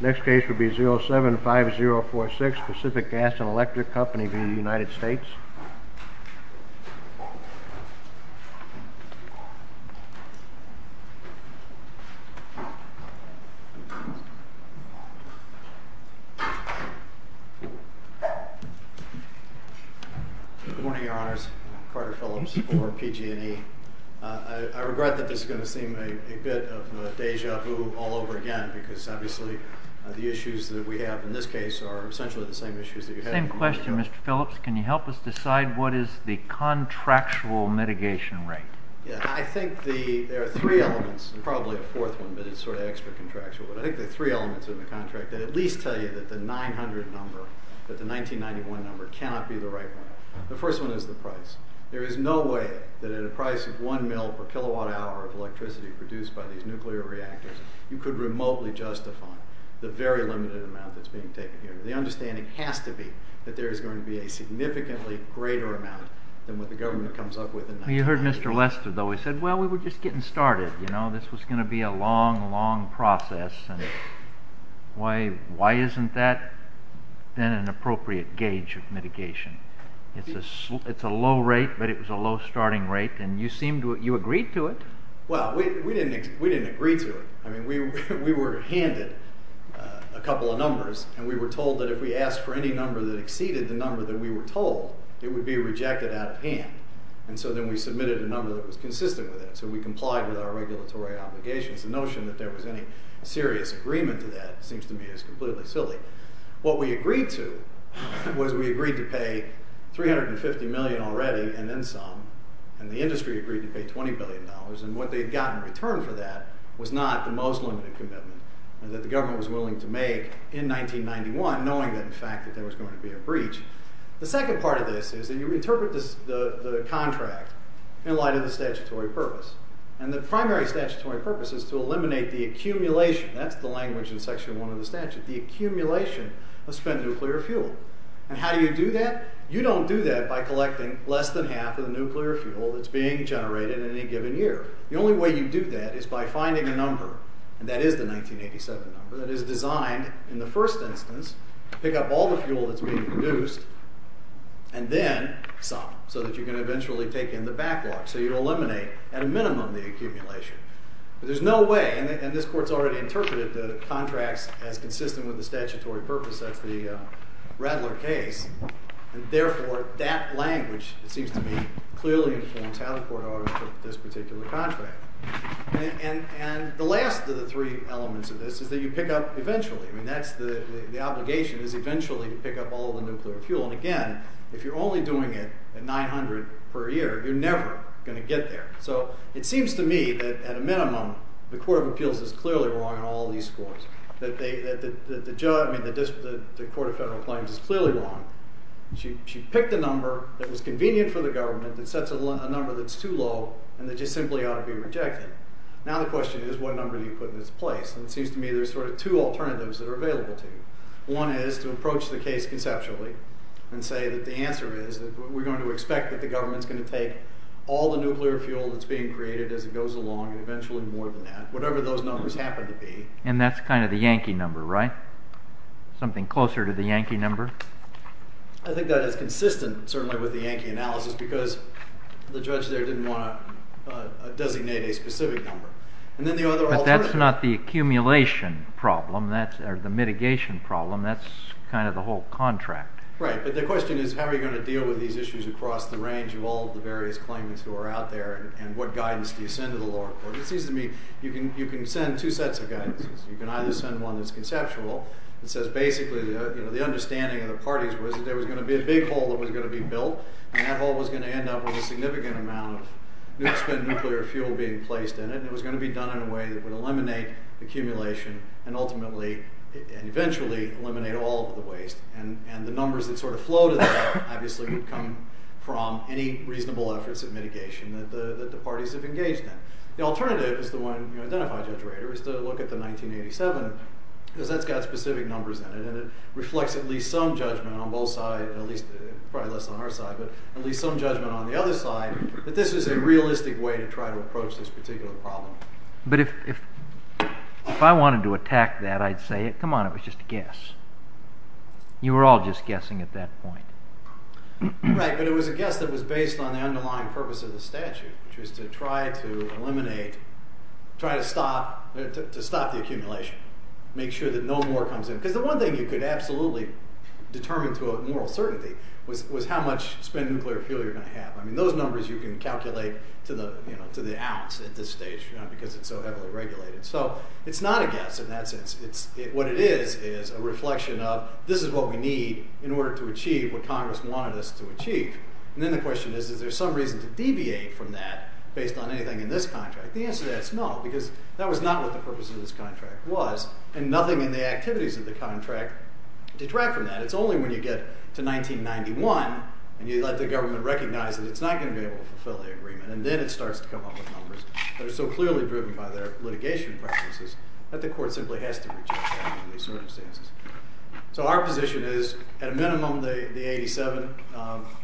Next case will be 075046 Pacific Gas and Electric Company v. United States Good morning, Your Honors. Carter Phillips for PG&E. I regret that this is going to seem a bit of a deja vu all over again because, obviously, the issues that we have in this case are essentially the same issues that you had in the last case. My question, Mr. Phillips, can you help us decide what is the contractual mitigation rate? I think there are three elements, and probably a fourth one, but it's sort of extra contractual. I think the three elements of the contract at least tell you that the 900 number, that the 1991 number, cannot be the right one. The first one is the price. There is no way that at a price of 1 mil per kilowatt hour of electricity produced by these nuclear reactors you could remotely justify the very limited amount that's being taken here. The understanding has to be that there is going to be a significantly greater amount than what the government comes up with in 1992. You heard Mr. Lester, though. He said, well, we were just getting started. This was going to be a long, long process. Why isn't that then an appropriate gauge of mitigation? It's a low rate, but it was a low starting rate, and you agreed to it. Well, we didn't agree to it. I mean, we were handed a couple of numbers, and we were told that if we asked for any number that exceeded the number that we were told, it would be rejected out of hand, and so then we submitted a number that was consistent with it, so we complied with our regulatory obligations. The notion that there was any serious agreement to that seems to me as completely silly. What we agreed to was we agreed to pay $350 million already and then some, and the industry agreed to pay $20 billion, and what they got in return for that was not the most limited commitment that the government was willing to make in 1991, knowing that, in fact, that there was going to be a breach. The second part of this is that you interpret the contract in light of the statutory purpose, and the primary statutory purpose is to eliminate the accumulation—that's the language in Section 1 of the statute—the accumulation of spent nuclear fuel, and how do you do that? You don't do that by collecting less than half of the nuclear fuel that's being generated in any given year. The only way you do that is by finding a number, and that is the 1987 number, that is designed, in the first instance, to pick up all the fuel that's being produced and then some, so that you can eventually take in the backlog, so you eliminate, at a minimum, the accumulation. But there's no way, and this Court's already interpreted the contracts as consistent with the statutory purpose, that's the Rattler case, and therefore that language, it seems to me, clearly informs how the Court ought to interpret this particular contract. And the last of the three elements of this is that you pick up, eventually, I mean, that's the obligation, is eventually to pick up all the nuclear fuel, and again, if you're only doing it at 900 per year, you're never going to get there. So, it seems to me that, at a minimum, the Court of Appeals is clearly wrong on all these scores. The Court of Federal Claims is clearly wrong. She picked a number that was convenient for the government that sets a number that's too low and that just simply ought to be rejected. Now the question is, what number do you put in its place? And it seems to me there's sort of two alternatives that are available to you. One is to approach the case conceptually and say that the answer is that we're going to expect that the government's going to take all the nuclear fuel that's being created as it goes along, and eventually more than that, whatever those numbers happen to be. And that's kind of the Yankee number, right? Something closer to the Yankee number? I think that is consistent, certainly, with the Yankee analysis, because the judge there didn't want to designate a specific number. And then the other alternative... But that's not the accumulation problem, or the mitigation problem. That's kind of the whole contract. Right. But the question is, how are you going to deal with these issues across the range of all the various claimants who are out there, and what guidance do you send to the lower court? It seems to me you can send two sets of guidance. You can either send one that's going to be a big hole that was going to be built, and that hole was going to end up with a significant amount of spent nuclear fuel being placed in it, and it was going to be done in a way that would eliminate the accumulation, and ultimately, and eventually, eliminate all of the waste. And the numbers that sort of flow to that, obviously, would come from any reasonable efforts of mitigation that the parties have engaged in. The alternative is the one identified, Judge Rader, is to look at the 1987, because that's got specific numbers in it, and it reflects at least some judgment on both sides, at least probably less on our side, but at least some judgment on the other side, that this is a realistic way to try to approach this particular problem. But if I wanted to attack that, I'd say, come on, it was just a guess. You were all just guessing at that point. Right, but it was a guess that was based on the underlying purpose of the statute, which more comes in, because the one thing you could absolutely determine to a moral certainty was how much spent nuclear fuel you're going to have. I mean, those numbers you can calculate to the ounce at this stage, because it's so heavily regulated. So it's not a guess in that sense. What it is, is a reflection of, this is what we need in order to achieve what Congress wanted us to achieve, and then the question is, is there some reason to deviate from that based on anything in this contract? The answer to that is no, because that was not what the purpose of this contract was, and nothing in the activities of the contract detract from that. It's only when you get to 1991, and you let the government recognize that it's not going to be able to fulfill the agreement, and then it starts to come up with numbers that are so clearly driven by their litigation practices, that the court simply has to reject that under these circumstances. So our position is, at a minimum, the 87.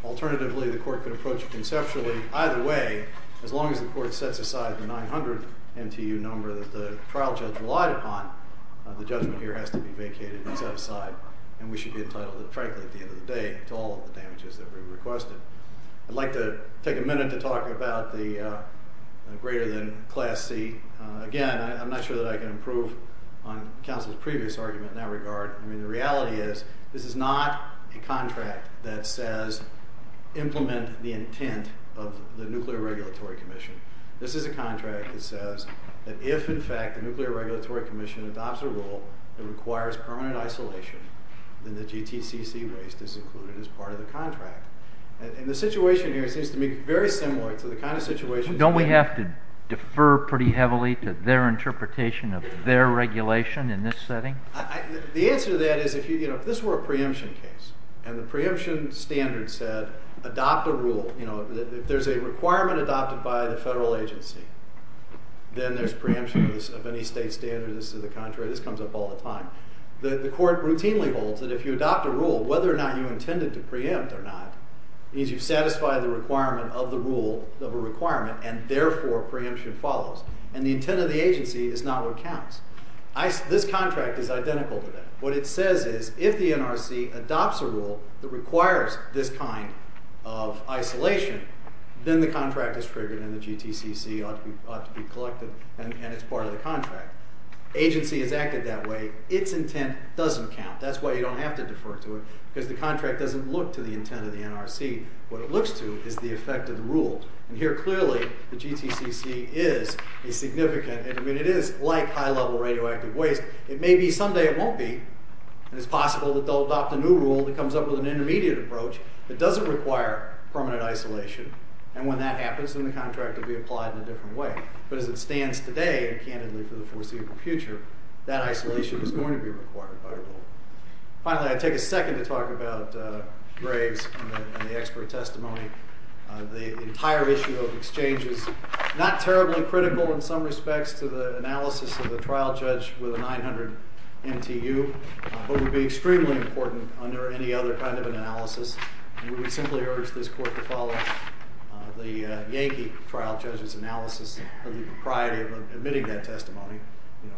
Alternatively, the court could approach it conceptually either way, as long as the court sets aside the 900 MTU number that the trial judge relied upon, the judgment here has to be vacated and set aside, and we should be entitled, frankly, at the end of the day, to all of the damages that we requested. I'd like to take a minute to talk about the greater than Class C. Again, I'm not sure that I can improve on counsel's previous argument in that regard. I mean, the reality is, this is not a contract that says, implement the intent of the Nuclear Regulatory Commission. This is a contract that says, that if, in fact, the Nuclear Regulatory Commission adopts a rule that requires permanent isolation, then the GTCC waste is included as part of the contract. And the situation here seems to me very similar to the kind of situation... Don't we have to defer pretty heavily to their interpretation of their regulation in this setting? The answer to that is, if this were a preemption case, and the preemption standard said, adopt a rule, if there's a requirement adopted by the federal agency, then there's preemption of any state standard that's to the contrary. This comes up all the time. The court routinely holds that if you adopt a rule, whether or not you intended to preempt or not, means you've satisfied the requirement of the rule, of a requirement, and therefore, preemption follows. And the intent of the agency is not what counts. This contract is identical to that. What it says is, if the NRC adopts a rule that requires this kind of isolation, then the contract is triggered and the GTCC ought to be collected and it's part of the contract. Agency has acted that way. Its intent doesn't count. That's why you don't have to defer to it, because the contract doesn't look to the intent of the NRC. What it looks to is the effect of the rule. And here, clearly, the GTCC is a significant... I mean, it is like high-level radioactive waste. It may be someday it won't be. And it's possible that they'll adopt a new rule that comes up with an intermediate approach that doesn't require permanent isolation, and when that happens, then the contract will be applied in a different way. But as it stands today, and candidly for the foreseeable future, that isolation is going to be required by the rule. Finally, I'd take a second to talk about Graves and the expert testimony. The entire issue of exchange is not terribly critical in some respects to the analysis of the trial judge with a 900 MTU, but would be extremely important under any other kind of analysis. We would simply urge this court to follow the Yankee trial judge's analysis of the propriety of admitting that testimony.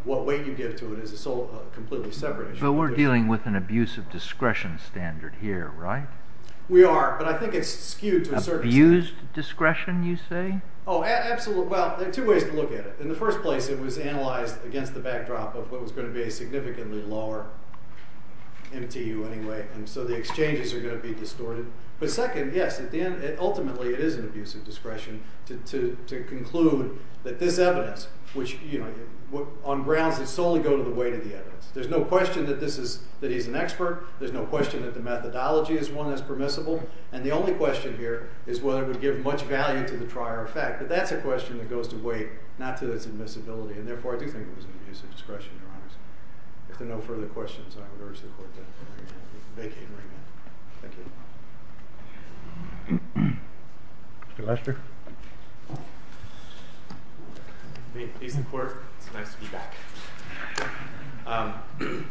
What weight you give to it is a sole, completely separate issue. But we're dealing with an abuse of discretion standard here, right? We are, but I think it's skewed to a certain... Abused discretion, you say? Oh, absolutely. Well, there are two ways to look at it. In the first place, it was analyzed against the backdrop of what was going to be a significantly lower MTU anyway, and so the exchanges are going to be distorted. But second, yes, ultimately it is an abuse of discretion to conclude that this evidence, which on grounds that solely go to the weight of the evidence. There's no question that he's an expert, there's no question that the methodology is one that's permissible, and the only question here is whether it would give much value to the trier effect. But that's a question that goes to weight, not to its admissibility, and therefore I do think it was an abuse of discretion, Your Honors. If there are no further questions, I would urge the Court to vacate right now. Thank you. Mr. Lester? May it please the Court? It's nice to be back. We've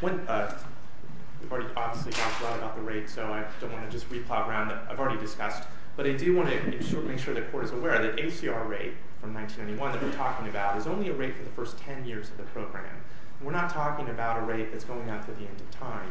already obviously talked a lot about the rate, so I don't want to just re-plod around. I've already discussed, but I do want to make sure the Court is aware that ACR rate from 1991 that we're talking about is only a rate for the first 10 years of the program. We're not talking about a rate that's going out to the end of time.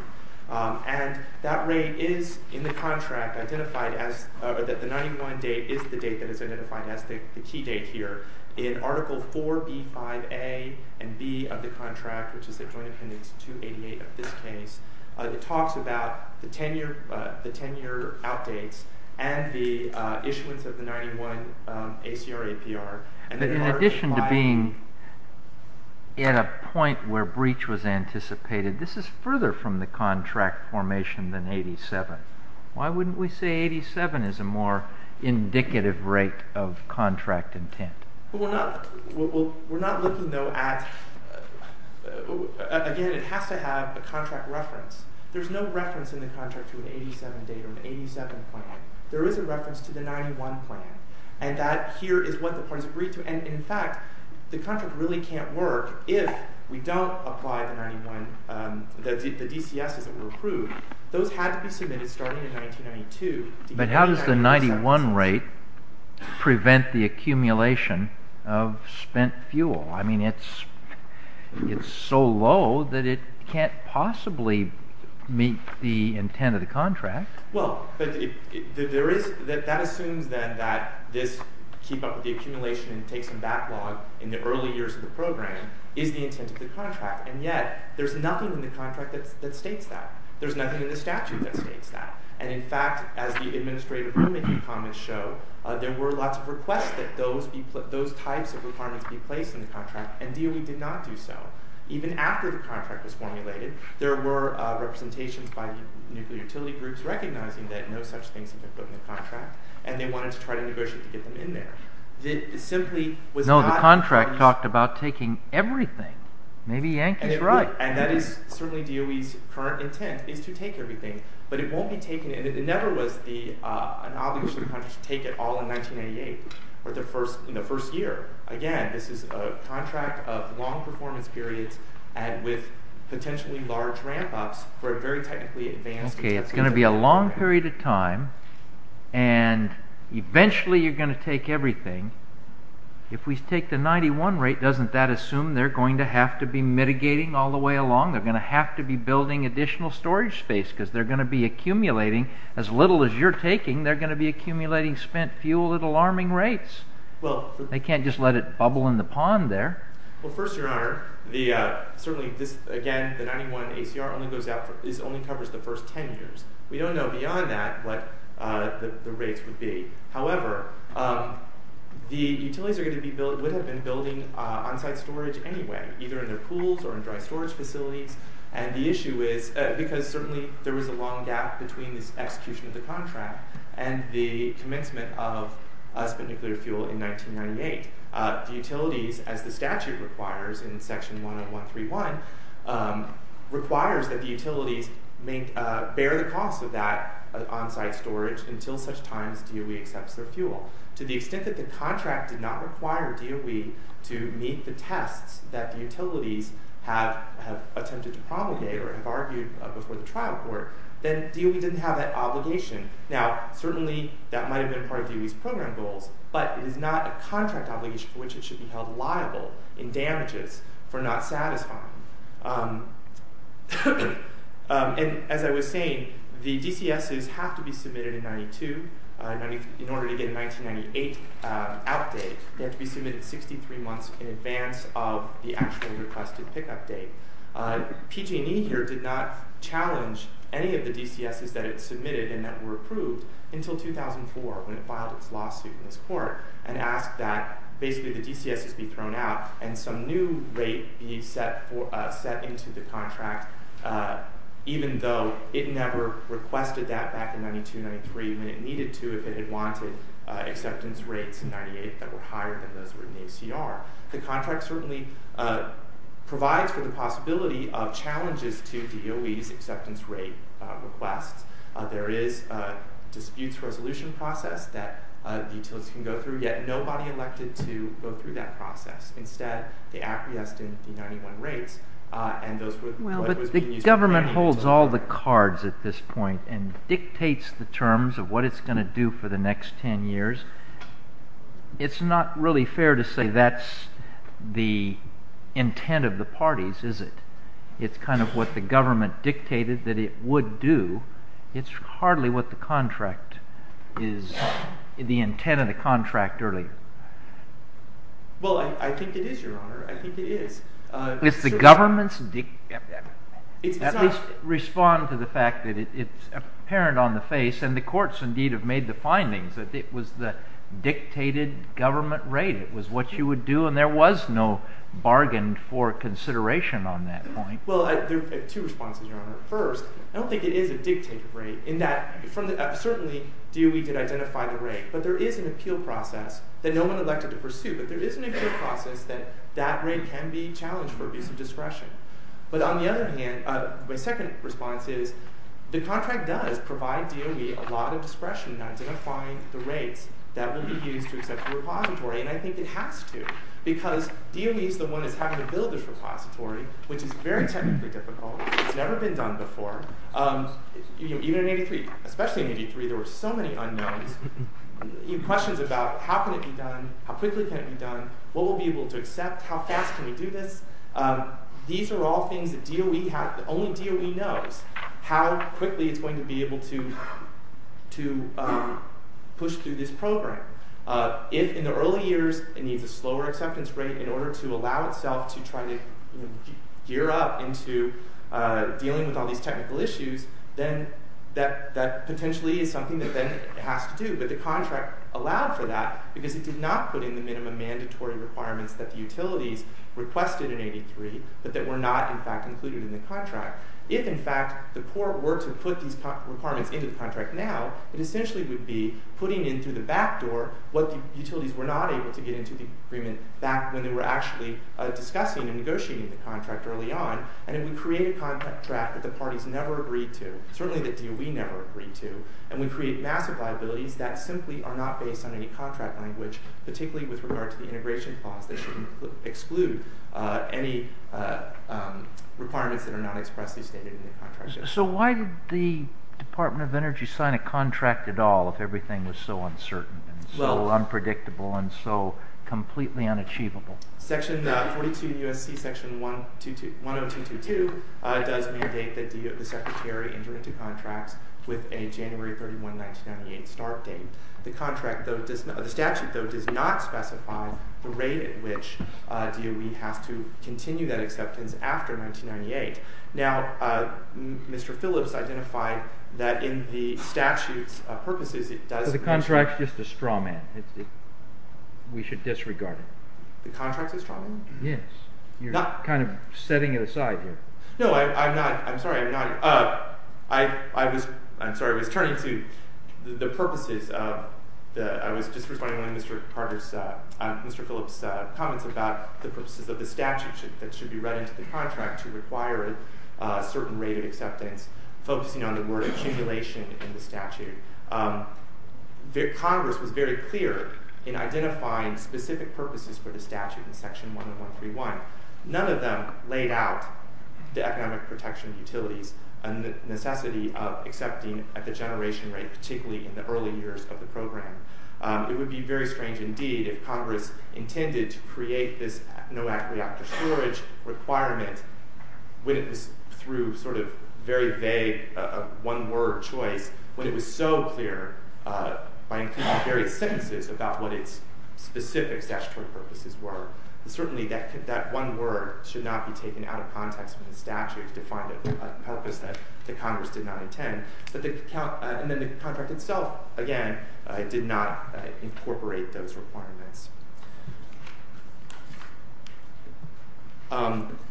And that rate is in the contract identified as, or that the 91 date is the date that is identified as the key date here. In Article 4B-5A and B of the contract, which is the Joint Appendix 288 of this case, it talks about the 10-year outdates and the issuance of the 91 ACR-APR. In addition to being at a point where breach was anticipated, this is further from the contract formation than 87. Why wouldn't we say 87 is a more indicative rate of contract intent? We're not looking, though, at, again, it has to have a contract reference. There's no reference in the contract to an 87 date or an 87 plan. There is a reference to the 91 plan and that here is what the parties agreed to. And, in fact, the contract really can't work if we don't apply the 91, the DCSs that were approved. Those had to be submitted starting in 1992. But how does the 91 rate prevent the accumulation of spent fuel? I mean, it's so low that it can't possibly meet the intent of the contract. Well, that assumes, then, that this keep up with the accumulation and take some backlog in the early years of the program is the intent of the contract. And yet, there's nothing in the contract that states that. There's nothing in the statute that states that. And, in fact, as the administrative rulemaking comments show, there were lots of requests that those types of requirements be placed in the contract, and DOE did not do so. Even after the contract was formulated, there were representations by nuclear utility groups recognizing that no such things had been put in the contract and they wanted to try to negotiate to get them in there. No, the contract talked about taking everything. Maybe Yankee's right. And that is certainly DOE's current intent, is to take everything. But it won't be taken. It never was an obligation to take it all in 1998, in the first year. Again, this is a contract of long performance periods with potentially large ramp-ups for a very technically advanced... Okay, it's going to be a long period of time, and eventually you're going to take everything. If we take the 91 rate, doesn't that assume they're going to have to be mitigating all the way along? They're going to have to be building additional storage space, because they're going to be accumulating, as little as you're taking, they're going to be accumulating spent fuel at alarming rates. They can't just let it bubble in the pond there. Well, first, your honor, certainly this, again, the 91 ACR only covers the first 10 years. We don't know beyond that what the rates would be. However, the utilities would have been building on-site storage anyway, either in their pools or in dry storage facilities, and the issue is because certainly there was a long gap between this execution of the contract and the commencement of spent nuclear fuel in 1998. The utilities, as the statute requires in section 131, requires that the utilities bear the cost of that on-site storage until such times DOE accepts their fuel. To the extent that the contract did not require DOE to meet the tests that the utilities have attempted to promulgate or have argued before the trial court, then DOE didn't have that obligation. Now, certainly that might have been part of DOE's program goals, but it is not a contract obligation for which it should be held liable in damages for not satisfying. As I was saying, the DCSs have to be submitted in 1992 in order to get a 1998 outdate. They have to be submitted 63 months in advance of the actually requested pickup date. PG&E here did not challenge any of the DCSs that it submitted and that were approved until 2004 when it filed its lawsuit in this court and asked that basically the DCSs be thrown out and some new rate be set into the contract, even though it never requested that back in 1992-93 when it needed to if it had wanted acceptance rates in 1998 that were higher than those in ACR. The contract certainly provides for the possibility of challenges to DOE's acceptance rate requests. There is a disputes resolution process that utilities can go through, yet nobody elected to go through that process. Instead they acquiesced in the 91 rates. The government holds all the cards at this point and dictates the terms of what it's going to do for the next 10 years. It's not really fair to say that's the intent of the parties, is it? It's kind of what the government dictated that it would do. It's hardly what the contract is, the intent of the contract, really. Well, I think it is, Your Honor. I think it is. Does the government at least respond to the fact that it's apparent on the face, and the courts indeed have made the findings, that it was the dictated government rate. It was what you would do and there was no bargain for consideration on that point. Well, I have two responses, Your Honor. First, I don't think it is a dictated rate in that certainly DOE did identify the rate, but there is an appeal process that no one elected to pursue, but there is an appeal process that that rate can be challenged for abuse of discretion. But on the other hand, my second response is, the contract does provide DOE a lot of discretion in identifying the rates that will be used to accept the repository, and I think it has to, because DOE is the one that's having to use this repository, which is very technically difficult. It's never been done before. Even in 83, especially in 83, there were so many unknowns, questions about how can it be done, how quickly can it be done, what will we be able to accept, how fast can we do this? These are all things that DOE, only DOE knows how quickly it's going to be able to push through this program. If in the early years it needs a slower acceptance rate in order to allow itself to try to gear up into dealing with all these technical issues, then that potentially is something that then it has to do. But the contract allowed for that because it did not put in the minimum mandatory requirements that the utilities requested in 83, but that were not, in fact, included in the contract. If, in fact, the poor were to put these requirements into the contract now, it essentially would be putting in through the back door what the utilities were not able to get into the agreement back when they were actually discussing and negotiating the contract early on, and it would create a contract that the parties never agreed to, certainly that DOE never agreed to, and would create massive liabilities that simply are not based on any contract language, particularly with regard to the integration clause that shouldn't exclude any requirements that are not expressly stated in the contract. So why did the Department of Energy sign a contract at all if everything was so uncertain and so unpredictable and so completely unachievable? Section 42 U.S.C. Section 10222 does mandate that the Secretary enter into contracts with a January 31, 1998 start date. The statute, though, does not specify the rate at which DOE has to continue that acceptance after 1998. Now, Mr. Phillips identified that in the statute's straw man. We should disregard it. The contract's a straw man? Yes. You're kind of setting it aside here. No, I'm not. I'm sorry. I'm not. I'm sorry. I was turning to the purposes of—I was just responding to Mr. Phillips' comments about the purposes of the statute that should be read into the contract to require a certain rate of acceptance, focusing on the word accumulation in the statute. Congress was very clear in identifying specific purposes for the statute in Section 1131. None of them laid out the economic protection utilities and the necessity of accepting at the generation rate, particularly in the early years of the program. It would be very strange, indeed, if Congress intended to create this no reactor storage requirement when it was through sort of very vague one-word choice, when it was so clear by various sentences about what its specific statutory purposes were. Certainly, that one word should not be taken out of context in the statute to find a purpose that Congress did not intend. And then the contract itself, again, did not incorporate those requirements.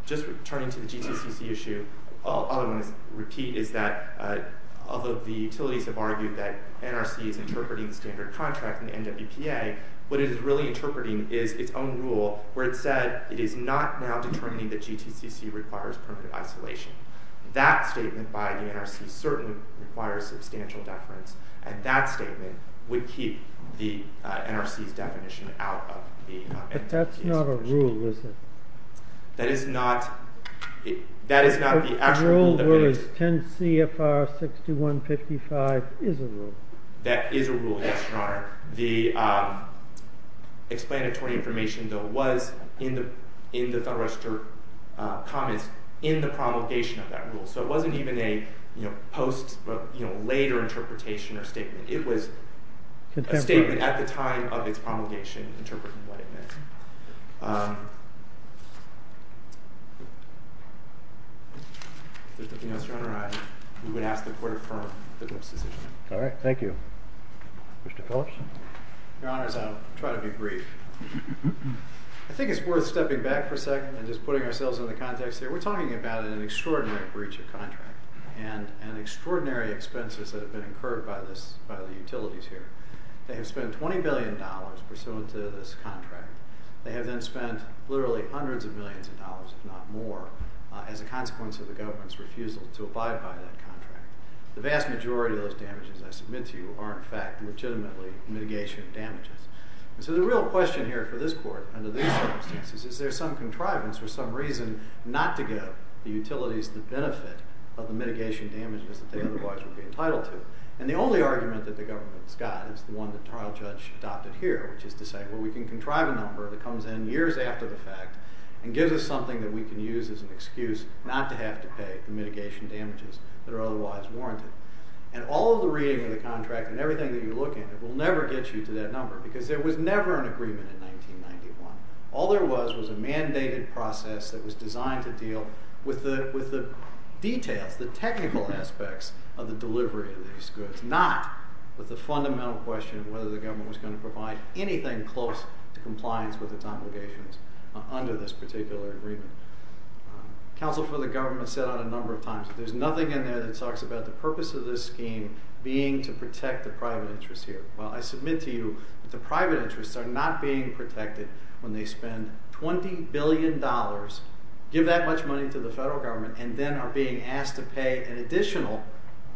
Just returning to the GTCC issue, all I want to repeat is that although the utilities have argued that NRC is interpreting the standard contract in the NWPA, what it is really interpreting is its own rule where it said it is not now determining that GTCC requires permanent isolation. That statement by the NRC certainly requires substantial deference, and that statement would keep the NRC's definition out of the NWPA's definition. It's not a rule, is it? The rule was 10 CFR 6155 is a rule. That is a rule, yes, Your Honor. The explanatory information, though, was in the Federal Register comments in the promulgation of that rule, so it wasn't even a post-later interpretation or statement. It was a statement at the time of its promulgation interpreting what it meant. If there's nothing else to underline, we would ask the Court to confirm the next decision. Your Honor, I'll try to be brief. I think it's worth stepping back for a second and just putting ourselves in the context here. We're talking about an extraordinary breach of contract and extraordinary expenses that have been incurred by the utilities here. They have spent $20 billion pursuant to this contract. They have then spent literally hundreds of millions of dollars, if not more, as a consequence of the government's refusal to abide by that contract. The vast majority of those damages I submit to you are, in fact, legitimately mitigation damages. So the real question here for this Court under these circumstances is, is there some contrivance or some reason not to give the utilities the benefit of the mitigation damages that they otherwise would be entitled to? And the only argument that the government's got is the one that trial judge adopted here, which is to say, well, we can contrive a number that comes in years after the fact and gives us something that we can use as an excuse not to have to pay the mitigation damages that are otherwise warranted. And all of the reading of the contract and everything that you look at will never get you to that number, because there was never an agreement in 1991. All there was was a mandated process that was designed to deal with the details, the technical aspects of the delivery of these goods, not with the fundamental question of whether the government was going to provide anything close to compliance with its obligations under this particular agreement. Counsel for the government said on a number of times that there's nothing in there that talks about the purpose of this scheme being to protect the private interest here. Well, I submit to you that the private interests are not being protected when they spend $20 billion, give that much money to the federal government, and then are being asked to pay an additional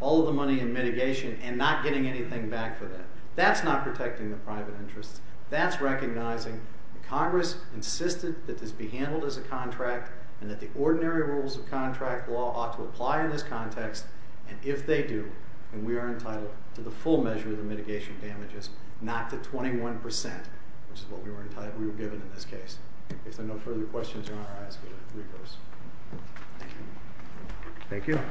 all of the money in mitigation and not getting anything back for that. That's not protecting the private interests. That's recognizing that Congress insisted that this be handled as a contract and that the ordinary rules of contract law ought to apply in this context, and if they do, then we are entitled to the full measure of the mitigation damages, not the 21%, which is what we were given in this case. If there are no further questions, you're on our list. Thank you.